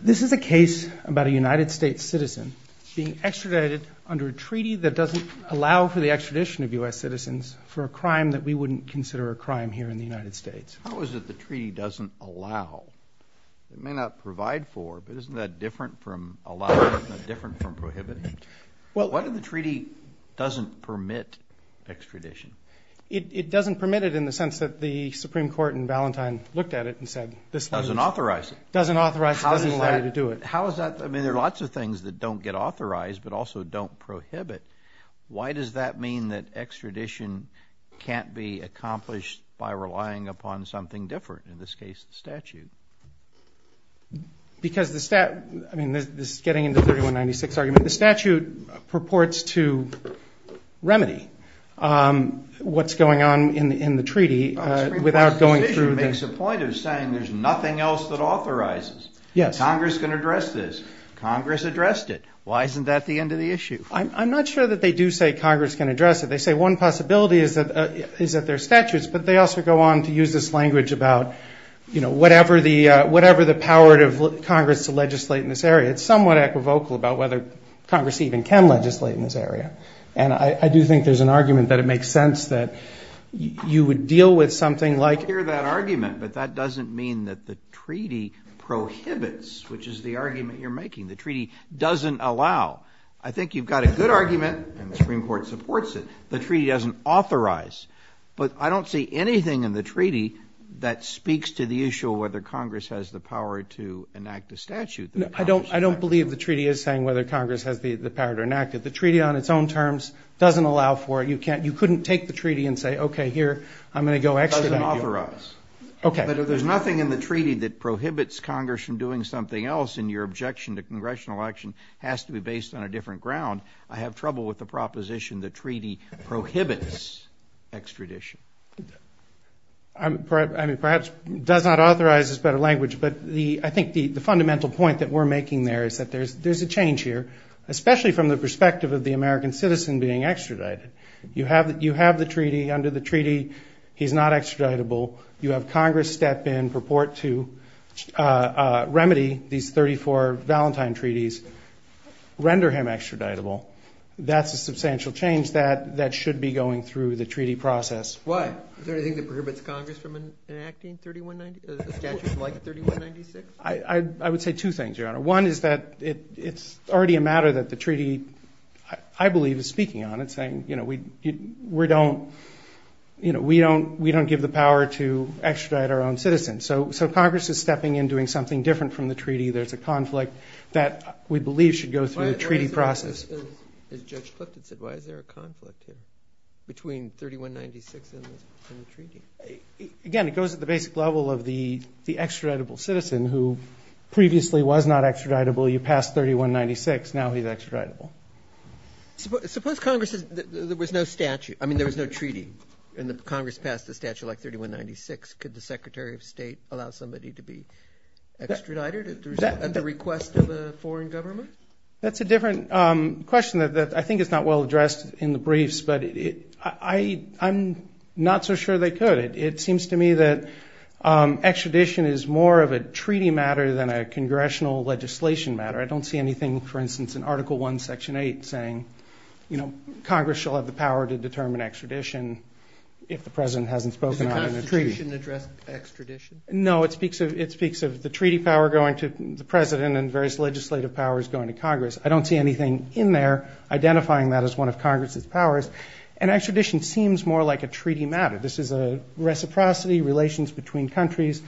This is a case about a United States citizen being extradited under a treaty that doesn't allow for the extradition of U.S. citizens for a crime that we wouldn't consider a crime here in the United States. How is it the treaty doesn't allow? It may not provide for, but isn't that different from allowing? Isn't that different from prohibiting? Why do the treaty doesn't permit extradition? It doesn't permit it in the sense that the Supreme Court in Valentine looked at it and said this language doesn't authorize it. Doesn't authorize it, doesn't allow you to do it. There are lots of things that don't get authorized, but also don't prohibit. Why does that mean that extradition can't be accomplished by relying upon something different, in this case the statute? This is getting into the 3196 argument. The statute purports to remedy what's going on in the treaty without going through the... The Supreme Court's decision makes a point of saying there's nothing else that authorizes. Yes. Congress can address this. Congress addressed it. Why isn't that the end of the issue? I'm not sure that they do say Congress can address it. They say one possibility is that there are statutes, but they also go on to use this language about whatever the power of Congress to legislate in this area. It's somewhat equivocal about whether Congress even can legislate in this area. And I do think there's an argument that it makes sense that you would deal with something like... I hear that argument, but that doesn't mean that the treaty prohibits, which is the argument you're making. The treaty doesn't allow. I think you've got a good argument, and the Supreme Court supports it. The treaty doesn't authorize. But I don't see anything in the treaty that speaks to the issue of whether Congress has the power to enact a statute. I don't believe the treaty is saying whether Congress has the power to enact it. The treaty on its own terms doesn't allow for it. You couldn't take the treaty and say, okay, here, I'm going to go extradite you. It doesn't authorize. Okay. But if there's nothing in the treaty that prohibits Congress from doing something else, and your objection to congressional action has to be based on a different ground, I have trouble with the proposition the treaty prohibits extradition. I mean, perhaps does not authorize is a better language, but I think the fundamental point that we're making there is that there's a change here, especially from the perspective of the American citizen being extradited. You have the treaty. Under the treaty, he's not extraditable. You have Congress step in, purport to remedy these 34 Valentine treaties, render him extraditable. That's a substantial change that should be going through the treaty process. Why? Is there anything that prohibits Congress from enacting a statute like 3196? I would say two things, Your Honor. One is that it's already a matter that the treaty, I believe, is speaking on. It's saying, you know, we don't give the power to extradite our own citizens. So Congress is stepping in, doing something different from the treaty. There's a conflict that we believe should go through the treaty process. As Judge Clifton said, why is there a conflict between 3196 and the treaty? Again, it goes to the basic level of the extraditable citizen who previously was not extraditable. You passed 3196. Now he's extraditable. Suppose Congress, there was no statute, I mean, there was no treaty, and Congress passed a statute like 3196. Could the Secretary of State allow somebody to be extradited at the request of a foreign government? That's a different question that I think is not well addressed in the briefs, but I'm not so sure they could. It seems to me that extradition is more of a treaty matter than a congressional legislation matter. I don't see anything, for instance, in Article I, Section 8, saying, you know, Congress shall have the power to determine extradition if the President hasn't spoken on it in the treaty. Does the Constitution address extradition? No, it speaks of the treaty power going to the President and various legislative powers going to Congress. I don't see anything in there identifying that as one of Congress's powers. And extradition seems more like a treaty matter. This is a reciprocity, relations between countries.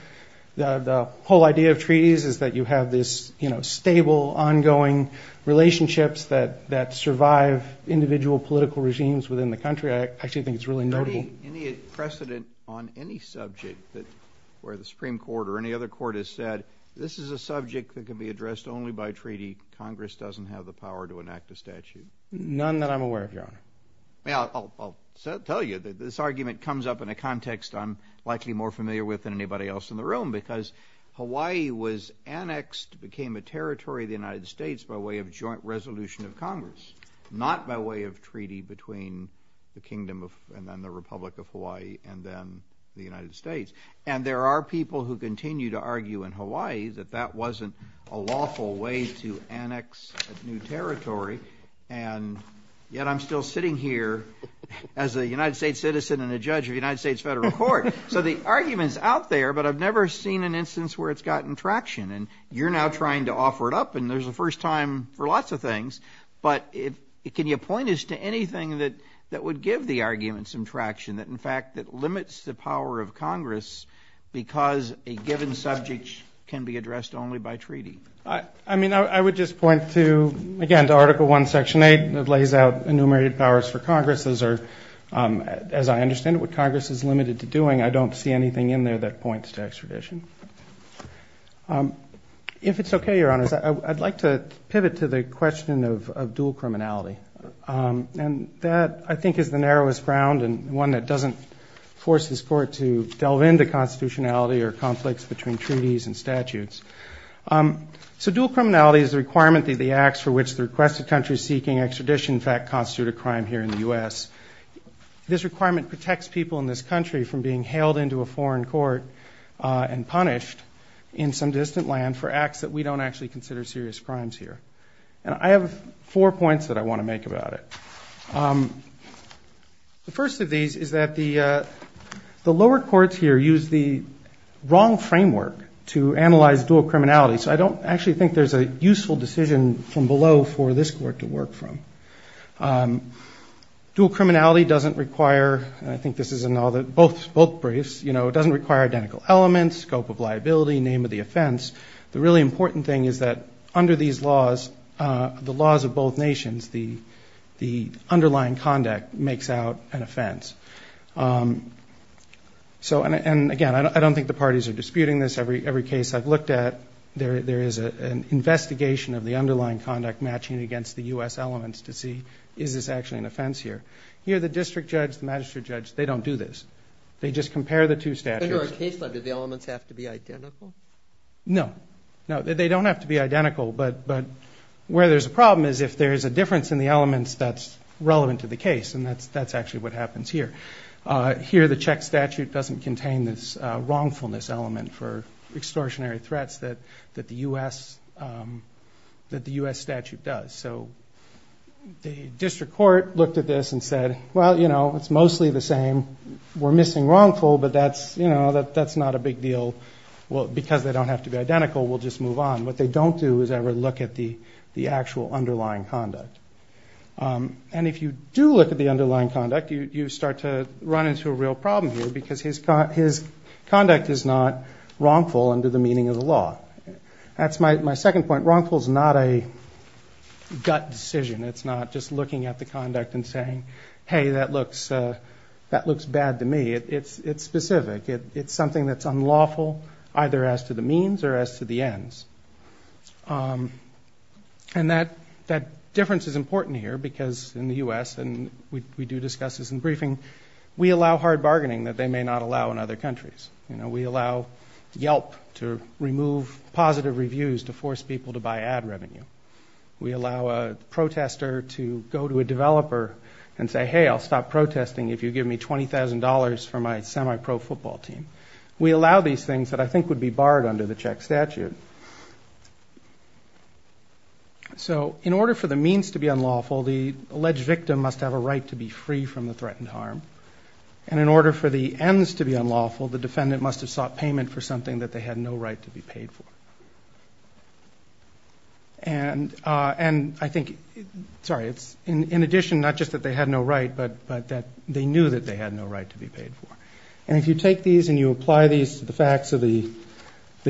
The whole idea of treaties is that you have this, you know, stable, ongoing relationships that survive individual political regimes within the country. I actually think it's really notable. Any precedent on any subject where the Supreme Court or any other court has said, this is a subject that can be addressed only by treaty, Congress doesn't have the power to enact a statute? None that I'm aware of, Your Honor. Well, I'll tell you that this argument comes up in a context I'm likely more familiar with than anybody else in the room because Hawaii was annexed, became a territory of the United States by way of joint resolution of Congress, not by way of treaty between the Kingdom and then the Republic of Hawaii and then the United States. And there are people who continue to argue in Hawaii that that wasn't a lawful way to annex a new territory. And yet I'm still sitting here as a United States citizen and a judge of the United States Federal Court. So the argument's out there, but I've never seen an instance where it's gotten traction. And you're now trying to offer it up, and there's a first time for lots of things. But can you point us to anything that would give the argument some traction, that in fact that limits the power of Congress because a given subject can be addressed only by treaty? I mean, I would just point to, again, to Article I, Section 8, that lays out enumerated powers for Congress. Those are, as I understand it, what Congress is limited to doing. I don't see anything in there that points to extradition. If it's okay, Your Honors, I'd like to pivot to the question of dual criminality. And that, I think, is the narrowest ground and one that doesn't force this Court to delve into constitutionality or conflicts between treaties and statutes. So dual criminality is the requirement that the acts for which the requested country is seeking extradition, in fact, constitute a crime here in the U.S. This requirement protects people in this country from being hailed into a foreign court and punished in some distant land for acts that we don't actually consider serious crimes here. And I have four points that I want to make about it. The first of these is that the lower courts here use the wrong framework to analyze dual criminality. So I don't actually think there's a useful decision from below for this Court to work from. Dual criminality doesn't require, and I think this is in both briefs, it doesn't require identical elements, scope of liability, name of the offense. The really important thing is that under these laws, the laws of both nations, the underlying conduct makes out an offense. So, and again, I don't think the parties are disputing this. Every case I've looked at, there is an investigation of the underlying conduct matching against the U.S. elements to see is this actually an offense here. Here, the district judge, the magistrate judge, they don't do this. They just compare the two statutes. In our case, do the elements have to be identical? No, no, they don't have to be identical. But where there's a problem is if there's a difference in the elements that's relevant to the case, and that's actually what happens here. Here, the Czech statute doesn't contain this wrongfulness element for extortionary threats that the U.S. statute does. So the district court looked at this and said, well, you know, it's mostly the same. We're missing wrongful, but that's, you know, that's not a big deal. Well, because they don't have to be identical, we'll just move on. What they don't do is ever look at the actual underlying conduct. And if you do look at the underlying conduct, you start to run into a real problem here because his conduct is not wrongful under the meaning of the law. That's my second point. Wrongful is not a gut decision. It's not just looking at the conduct and saying, hey, that looks bad to me. It's specific. It's something that's unlawful either as to the means or as to the ends. And that difference is important here because in the U.S. and we do discuss this in briefing, we allow hard bargaining that they may not allow in other countries. You know, we allow Yelp to remove positive reviews to force people to buy ad revenue. We allow a protester to go to a developer and say, hey, I'll stop protesting if you give me $20,000 for my semi-pro football. We allow these things that I think would be barred under the check statute. So in order for the means to be unlawful, the alleged victim must have a right to be free from the threatened harm. And in order for the ends to be unlawful, the defendant must have sought payment for something that they had no right to be paid for. And I think, sorry, it's in addition not just that they had no right, but that they knew that they had no right to be paid for. And if you take these and you apply these to the facts of the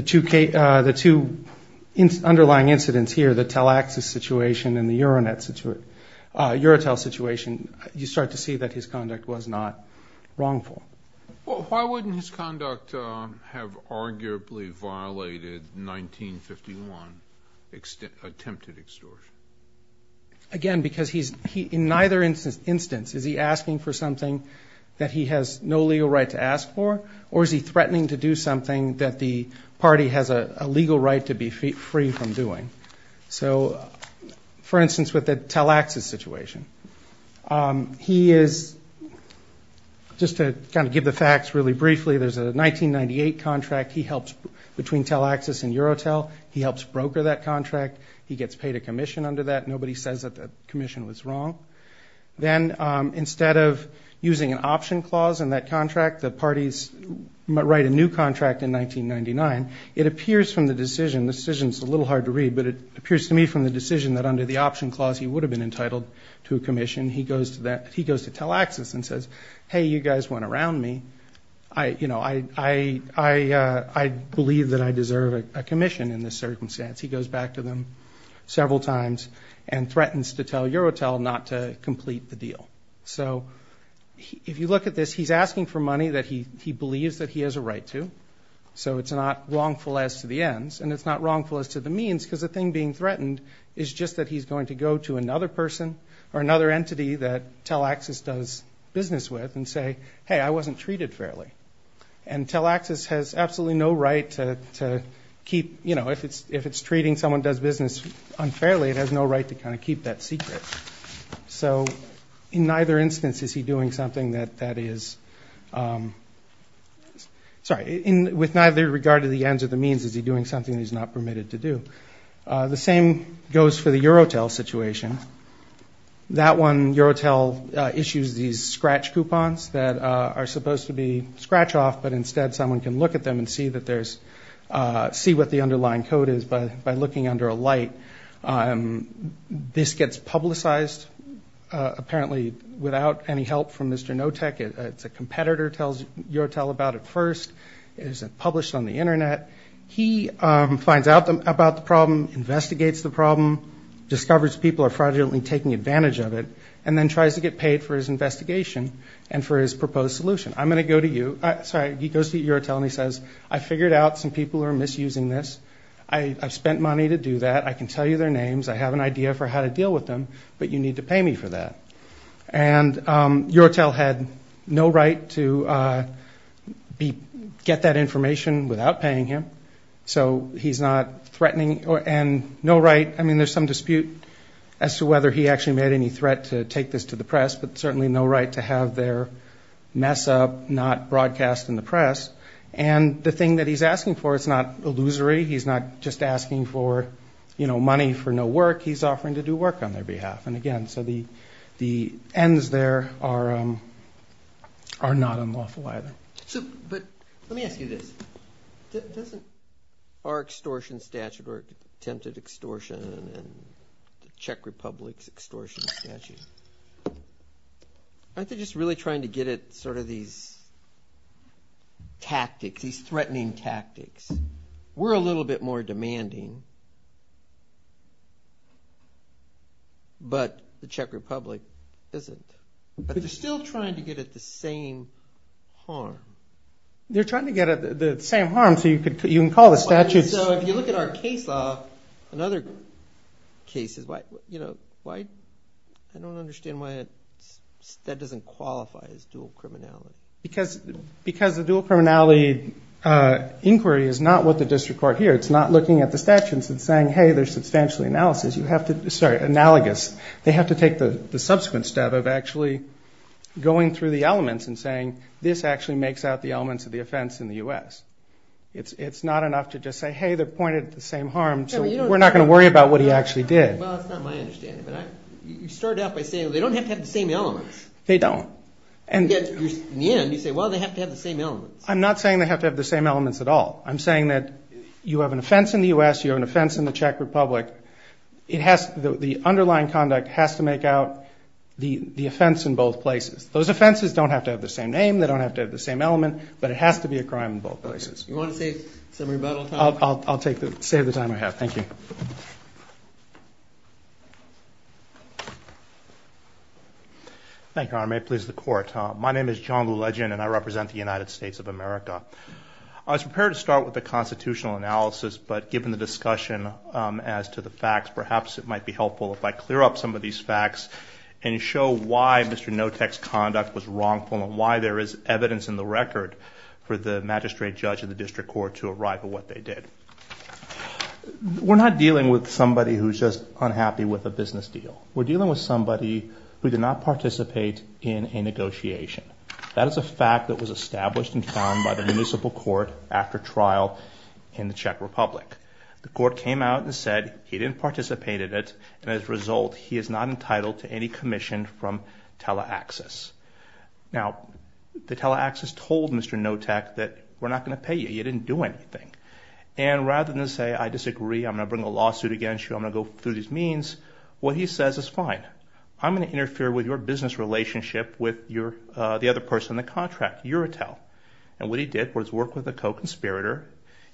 two underlying incidents here, the Telexis situation and the Eurotel situation, you start to see that his conduct was not wrongful. Why wouldn't his conduct have arguably violated 1951 attempted extortion? Again, because in neither instance is he asking for something that he has no legal right to do. He has no legal right to ask for, or is he threatening to do something that the party has a legal right to be free from doing? So, for instance, with the Telexis situation, he is, just to kind of give the facts really briefly, there's a 1998 contract. He helps, between Telexis and Eurotel, he helps broker that contract. He gets paid a commission under that. Nobody says that the commission was wrong. Then, instead of using an option clause in that contract, the parties write a new contract in 1999. It appears from the decision, the decision's a little hard to read, but it appears to me from the decision that under the option clause he would have been entitled to a commission. He goes to Telexis and says, hey, you guys went around me. I believe that I deserve a commission in this circumstance. He goes back to them several times and threatens to tell Eurotel not to complete the deal. So, if you look at this, he's asking for money that he believes that he has a right to, so it's not wrongful as to the ends, and it's not wrongful as to the means, because the thing being threatened is just that he's going to go to another person or another entity that Telexis does business with and say, hey, I wasn't treated fairly. And Telexis has absolutely no right to keep, you know, if it's treating someone who does business unfairly, it has no right to kind of keep that secret. So, in neither instance is he doing something that is, sorry, with neither regard to the ends or the means is he doing something that he's not permitted to do. The same goes for the Eurotel situation. That one, Eurotel issues these scratch coupons that are supposed to be scratch-off, but instead someone can look at them and see what the underlying code is by looking under a light. This gets publicized, apparently without any help from Mr. Notek. It's a competitor, tells Eurotel about it first. It is published on the Internet. He finds out about the problem, investigates the problem, discovers people are fraudulently taking advantage of it, and then tries to get paid for his investigation and for his proposed solution. I'm going to go to you, sorry, he goes to Eurotel and he says, I figured out some people are misusing this. I've spent money to do that, I can tell you their names, I have an idea for how to deal with them, but you need to pay me for that. And Eurotel had no right to get that information without paying him, so he's not threatening, and no right, I mean there's some dispute as to whether he actually made any threat to take this to the press, but certainly no right to have their mess up not broadcast in the press. And the thing that he's asking for is not illusory, he's not just asking for money for no work, he's offering to do work on their behalf. And again, so the ends there are not unlawful either. But let me ask you this, doesn't our extortion statute or attempted extortion and the Czech Republic's extortion statute, aren't they just really trying to get at sort of these tactics, these threatening tactics? We're a little bit more demanding, but the Czech Republic isn't. But they're still trying to get at the same harm. They're trying to get at the same harm, so you can call the statutes. So if you look at our case law, another case, I don't understand why that doesn't qualify as dual criminality. Because the dual criminality inquiry is not what the district court hears. It's not looking at the statutes and saying, hey, there's substantial analysis, you have to, sorry, analogous. They have to take the subsequent step of actually going through the elements and saying, this actually makes out the elements of the offense in the U.S. It's not enough to just say, hey, they're pointed at the same harm, so we're not going to worry about what he actually did. Well, that's not my understanding, but you started out by saying they don't have to have the same elements. They don't. In the end, you say, well, they have to have the same elements. I'm not saying they have to have the same elements at all. I'm saying that you have an offense in the U.S., you have an offense in the Czech Republic, the underlying conduct has to make out the offense in both places. Those offenses don't have to have the same name, they don't have to have the same element, but it has to be a crime in both places. Thank you, Your Honor. May it please the Court. I was prepared to start with the constitutional analysis, but given the discussion as to the facts, perhaps it might be helpful if I clear up some of these facts and show why Mr. Notek's conduct was wrongful and why there is evidence in the record for the magistrate judge and the district court to arrive at what they did. We're not dealing with somebody who's just unhappy with a business deal. We're dealing with somebody who did not participate in a negotiation. That is a fact that was established and found by the municipal court after trial in the Czech Republic. The court came out and said he didn't participate in it, and as a result, he is not entitled to any commission from TeleAxis. Now, the TeleAxis told Mr. Notek that we're not going to pay you, you didn't do anything. And rather than say, I disagree, I'm going to bring a lawsuit against you, I'm going to go through these means, what he says is, fine, I'm going to interfere with your business relationship with the other person in the contract, Eurotel. And what he did was work with a co-conspirator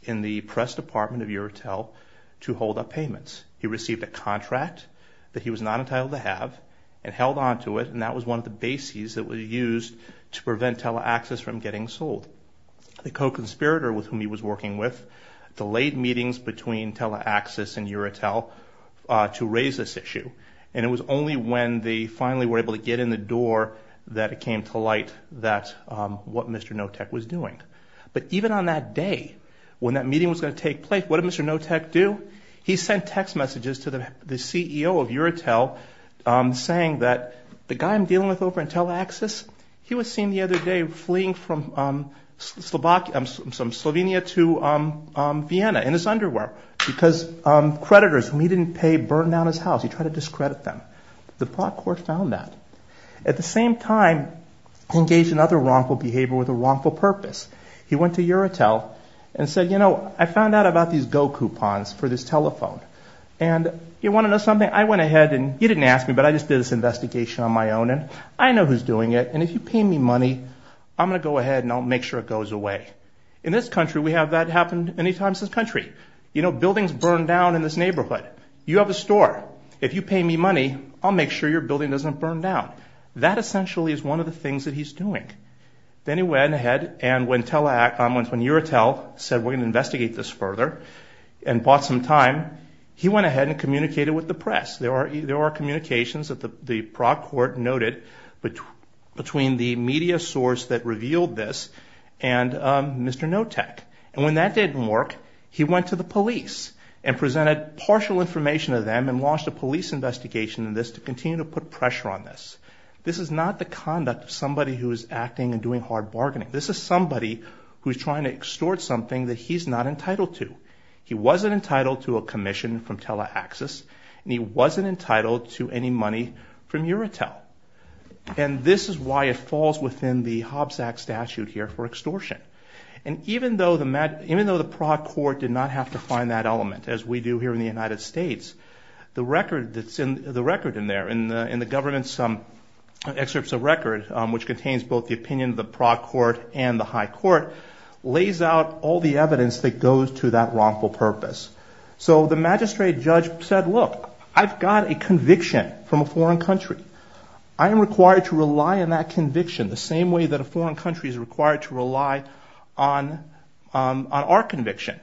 in the press department of Eurotel to hold up payments. He received a contract that he was not entitled to have and held onto it, and that was one of the bases that was used to prevent TeleAxis from getting sold. The co-conspirator with whom he was working with delayed meetings between TeleAxis and Eurotel to raise this issue, and it was only when they finally were able to get in the door that it came to light what Mr. Notek was doing. But even on that day, when that meeting was going to take place, what did Mr. Notek do? He sent text messages to the CEO of Eurotel saying that the guy I'm dealing with over at TeleAxis, he was seen the other day fleeing from Slovenia to Vienna in his underwear, because creditors whom he didn't pay burned down his house. He tried to discredit them. The court found that. At the same time, he engaged in other wrongful behavior with a wrongful purpose. He went to Eurotel and said, you know, I found out about these Go coupons for this telephone, and you want to know something? I went ahead, and you didn't ask me, but I just did this investigation on my own, and I know who's doing it, and if you pay me money, I'm going to go ahead, and I'll make sure it goes away. In this country, we have that happen many times in this country. You know, buildings burn down in this neighborhood. You have a store. If you pay me money, I'll make sure your building doesn't burn down. That essentially is one of the things that he's doing. Then he went ahead, and when Eurotel said we're going to investigate this further and bought some time, he went ahead and communicated with the press. There are communications that the Prague Court noted between the media source that revealed this and Mr. Notek, and when that didn't work, he went to the police and presented partial information to them and launched a police investigation in this to continue to put pressure on this. This is not the conduct of somebody who is acting and doing hard bargaining. This is somebody who's trying to extort something that he's not entitled to. He wasn't entitled to a commission from Teleaxis, and he wasn't entitled to any money from Eurotel, and this is why it falls within the Hobbs Act statute here for extortion. Even though the Prague Court did not have to find that element, as we do here in the United States, the record that's in there in the government's excerpts of record, which contains both the opinion of the Prague Court and the high court, lays out all the evidence that goes to that wrongful purpose. So the magistrate judge said, look, I've got a conviction from a foreign country. I am required to rely on that conviction the same way that a foreign country is required to rely on our conviction.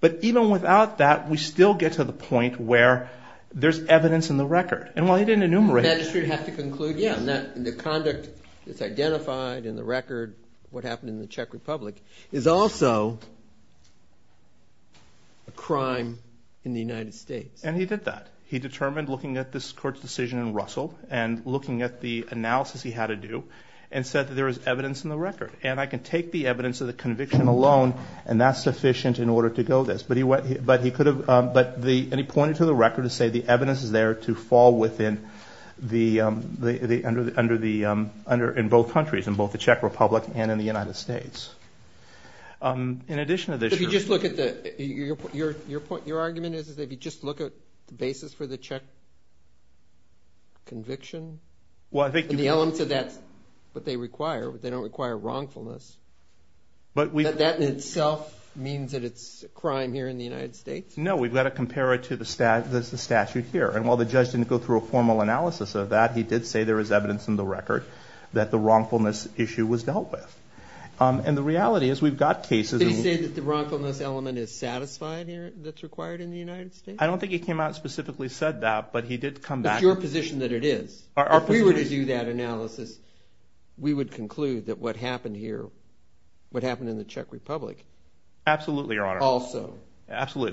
But even without that, we still get to the point where there's evidence in the record. And while he didn't enumerate it. The conduct that's identified in the record, what happened in the Czech Republic, is also a crime in the United States. And he did that. He determined looking at this court's decision in Russell and looking at the analysis he had to do and said that there was evidence in the record. And I can take the evidence of the conviction alone, and that's sufficient in order to go this. But he could have, and he pointed to the record to say the evidence is there to fall within the, in both countries, in both the Czech Republic and in the United States. In addition to this. So if you just look at the, your point, your argument is if you just look at the basis for the Czech conviction. Well, I think. But they require, they don't require wrongfulness. That in itself means that it's a crime here in the United States? No, we've got to compare it to the statute here. And while the judge didn't go through a formal analysis of that, he did say there was evidence in the record that the wrongfulness issue was dealt with. And the reality is we've got cases. Did he say that the wrongfulness element is satisfied here that's required in the United States? I don't think he came out and specifically said that, but he did come back. It's your position that it is. If we were to do that analysis, we would conclude that what happened here, what happened in the Czech Republic. Absolutely, Your Honor. Also. Absolutely. Absolutely.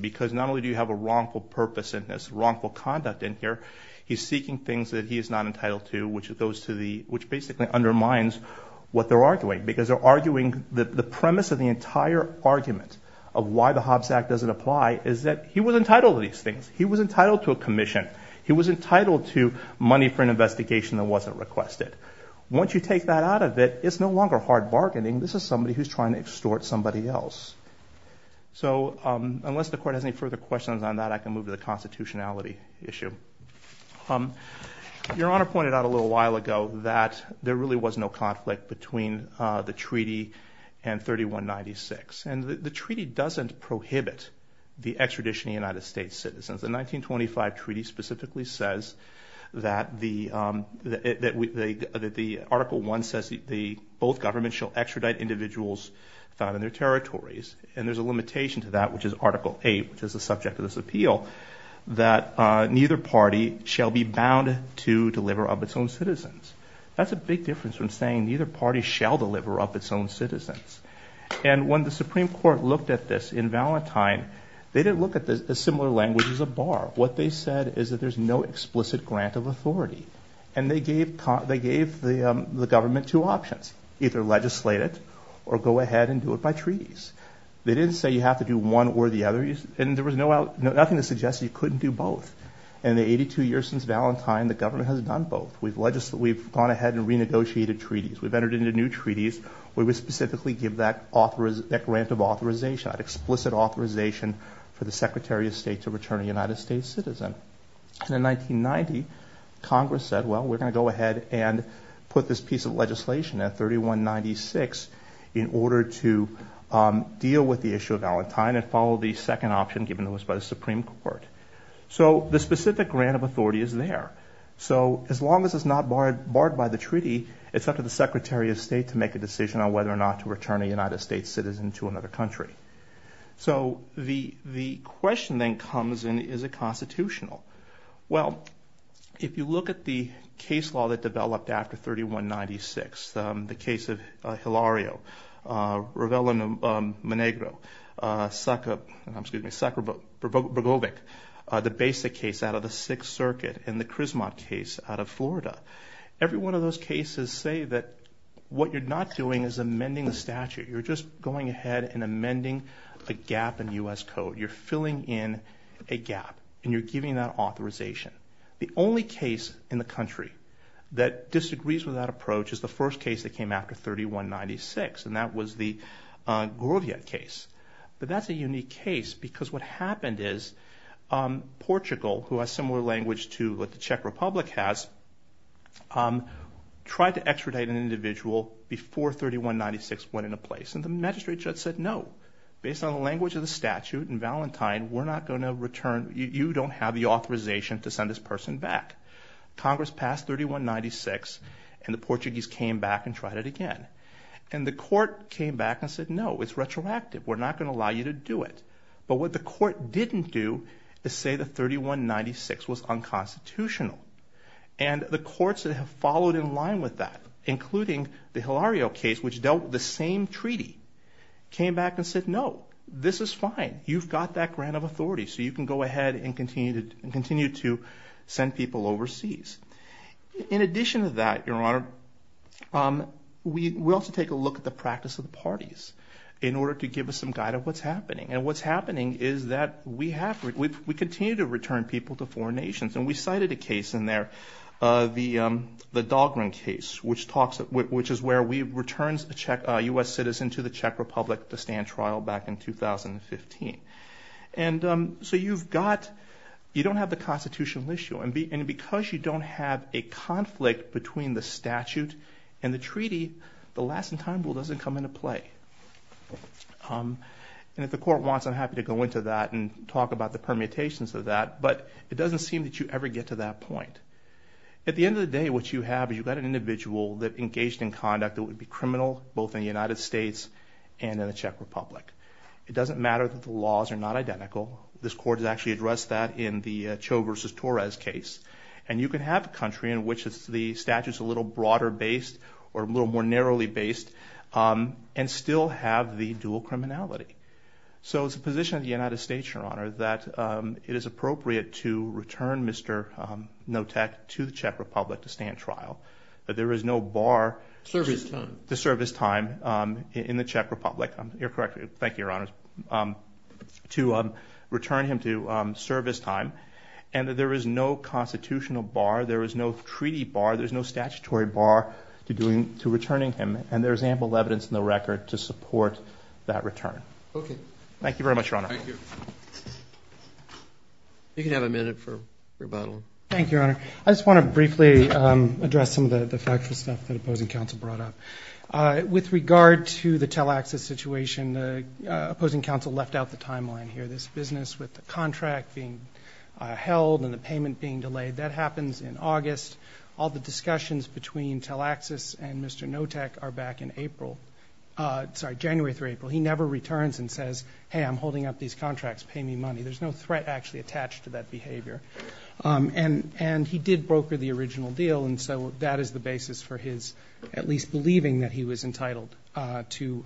Because not only do you have a wrongful purpose in this, wrongful conduct in here, he's seeking things that he is not entitled to, which goes to the, which basically undermines what they're arguing. Because they're arguing the premise of the entire argument of why the Hobbs Act doesn't apply is that he was entitled to these things. He was entitled to a commission. He was entitled to money for an investigation that wasn't requested. Once you take that out of it, it's no longer hard bargaining. This is somebody who's trying to extort somebody else. So unless the Court has any further questions on that, I can move to the constitutionality issue. Your Honor pointed out a little while ago that there really was no conflict between the treaty and 3196. And the treaty doesn't prohibit the extradition of United States citizens. The 1925 treaty specifically says that the, Article 1 says both governments shall extradite individuals found in their territories. And there's a limitation to that, which is Article 8, which is the subject of this appeal, that neither party shall be bound to deliver up its own citizens. That's a big difference from saying neither party shall deliver up its own citizens. And when the Supreme Court looked at this in Valentine, they didn't look at the similar language as a bar. What they said is that there's no explicit grant of authority. And they gave the government two options, either legislate it or go ahead and do it by treaties. They didn't say you have to do one or the other. And there was nothing that suggested you couldn't do both. In the 82 years since Valentine, the government has done both. We've gone ahead and renegotiated treaties. We've entered into new treaties where we specifically give that grant of authorization, that explicit authorization for the Secretary of State to return a United States citizen. And in 1990, Congress said, well, we're going to go ahead and put this piece of legislation at 3196 in order to deal with the issue of Valentine and follow the second option given to us by the Supreme Court. So the specific grant of authority is there. So as long as it's not barred by the treaty, it's up to the Secretary of State to make a decision on whether or not to return a United States citizen to another country. So the question then comes in, is it constitutional? Well, if you look at the case law that developed after 3196, the case of Hilario, Ravello-Menegro, Sakharovic, the basic case out of the Sixth Circuit, and the Krizmat case out of Florida, every one of those cases say that what you're not doing is amending the statute. You're just going ahead and amending a gap in U.S. code. You're filling in a gap, and you're giving that authorization. The only case in the country that disagrees with that approach is the first case that came after 3196, and that was the Gurdjieff case. But that's a unique case because what happened is Portugal, who has similar language to what the Czech Republic has, tried to extradite an individual before 3196 went into place, and the magistrate judge said no. Based on the language of the statute in Valentine, you don't have the authorization to send this person back. Congress passed 3196, and the Portuguese came back and tried it again. And the court came back and said, no, it's retroactive. We're not going to allow you to do it. But what the court didn't do is say that 3196 was unconstitutional. And the courts that have followed in line with that, including the Hilario case, which dealt with the same treaty, came back and said, no, this is fine. You've got that grant of authority, so you can go ahead and continue to send people overseas. In addition to that, Your Honor, we also take a look at the practice of the parties in order to give us some guide of what's happening. And what's happening is that we continue to return people to foreign nations. And we cited a case in there, the Dahlgren case, which is where we return a U.S. citizen to the Czech Republic to stand trial back in 2015. You don't have the constitutional issue. And because you don't have a conflict between the statute and the treaty, the last-in-time rule doesn't come into play. And if the court wants, I'm happy to go into that and talk about the permutations of that. But it doesn't seem that you ever get to that point. At the end of the day, what you have is you've got an individual that engaged in conduct that would be criminal, both in the United States and in the Czech Republic. It doesn't matter that the laws are not identical. This Court has actually addressed that in the Cho versus Torres case. And you can have a country in which the statute's a little broader-based or a little more narrowly-based and still have the dual criminality. So it's the position of the United States, Your Honor, that it is appropriate to return Mr. Notek to the Czech Republic to stand trial, that there is no bar... Service time. To service time in the Czech Republic. Thank you, Your Honor. To return him to service time, and that there is no constitutional bar, there is no treaty bar, there is no statutory bar to returning him, and there is ample evidence in the record to support that return. Thank you very much, Your Honor. Thank you. You can have a minute for rebuttal. Thank you, Your Honor. I just want to briefly address some of the factual stuff that opposing counsel brought up. With regard to the tele-access situation, opposing counsel left out the timeline here. This business with the contract being held and the payment being delayed, that happens in August. All the discussions between tele-access and Mr. Notek are back in April. Sorry, January through April. He never returns and says, hey, I'm holding up these contracts, pay me money. And he did broker the original deal, and so that is the basis for his at least believing that he was entitled to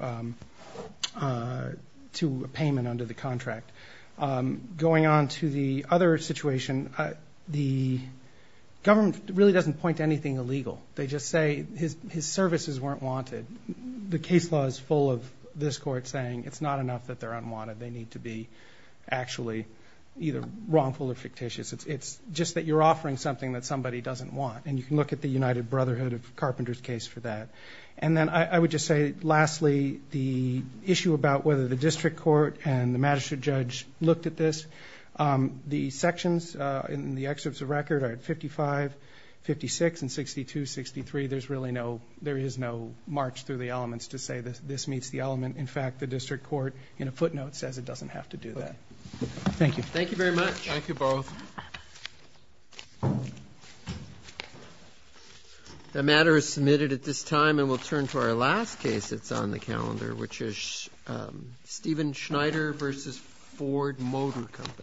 a payment under the contract. Going on to the other situation, the government really doesn't point to anything illegal. They just say his services weren't wanted. The case law is full of this Court saying it's not enough that they're unwanted. It's just that you're offering something that somebody doesn't want, and you can look at the United Brotherhood of Carpenters case for that. And then I would just say, lastly, the issue about whether the district court and the magistrate judge looked at this. The sections in the excerpts of record are at 55, 56, and 62, 63. There is no march through the elements to say this meets the element. In fact, the district court in a footnote says it doesn't have to do that. The matter is submitted at this time, and we'll turn to our last case that's on the calendar, which is Stephen Schneider v. Ford Motor Company.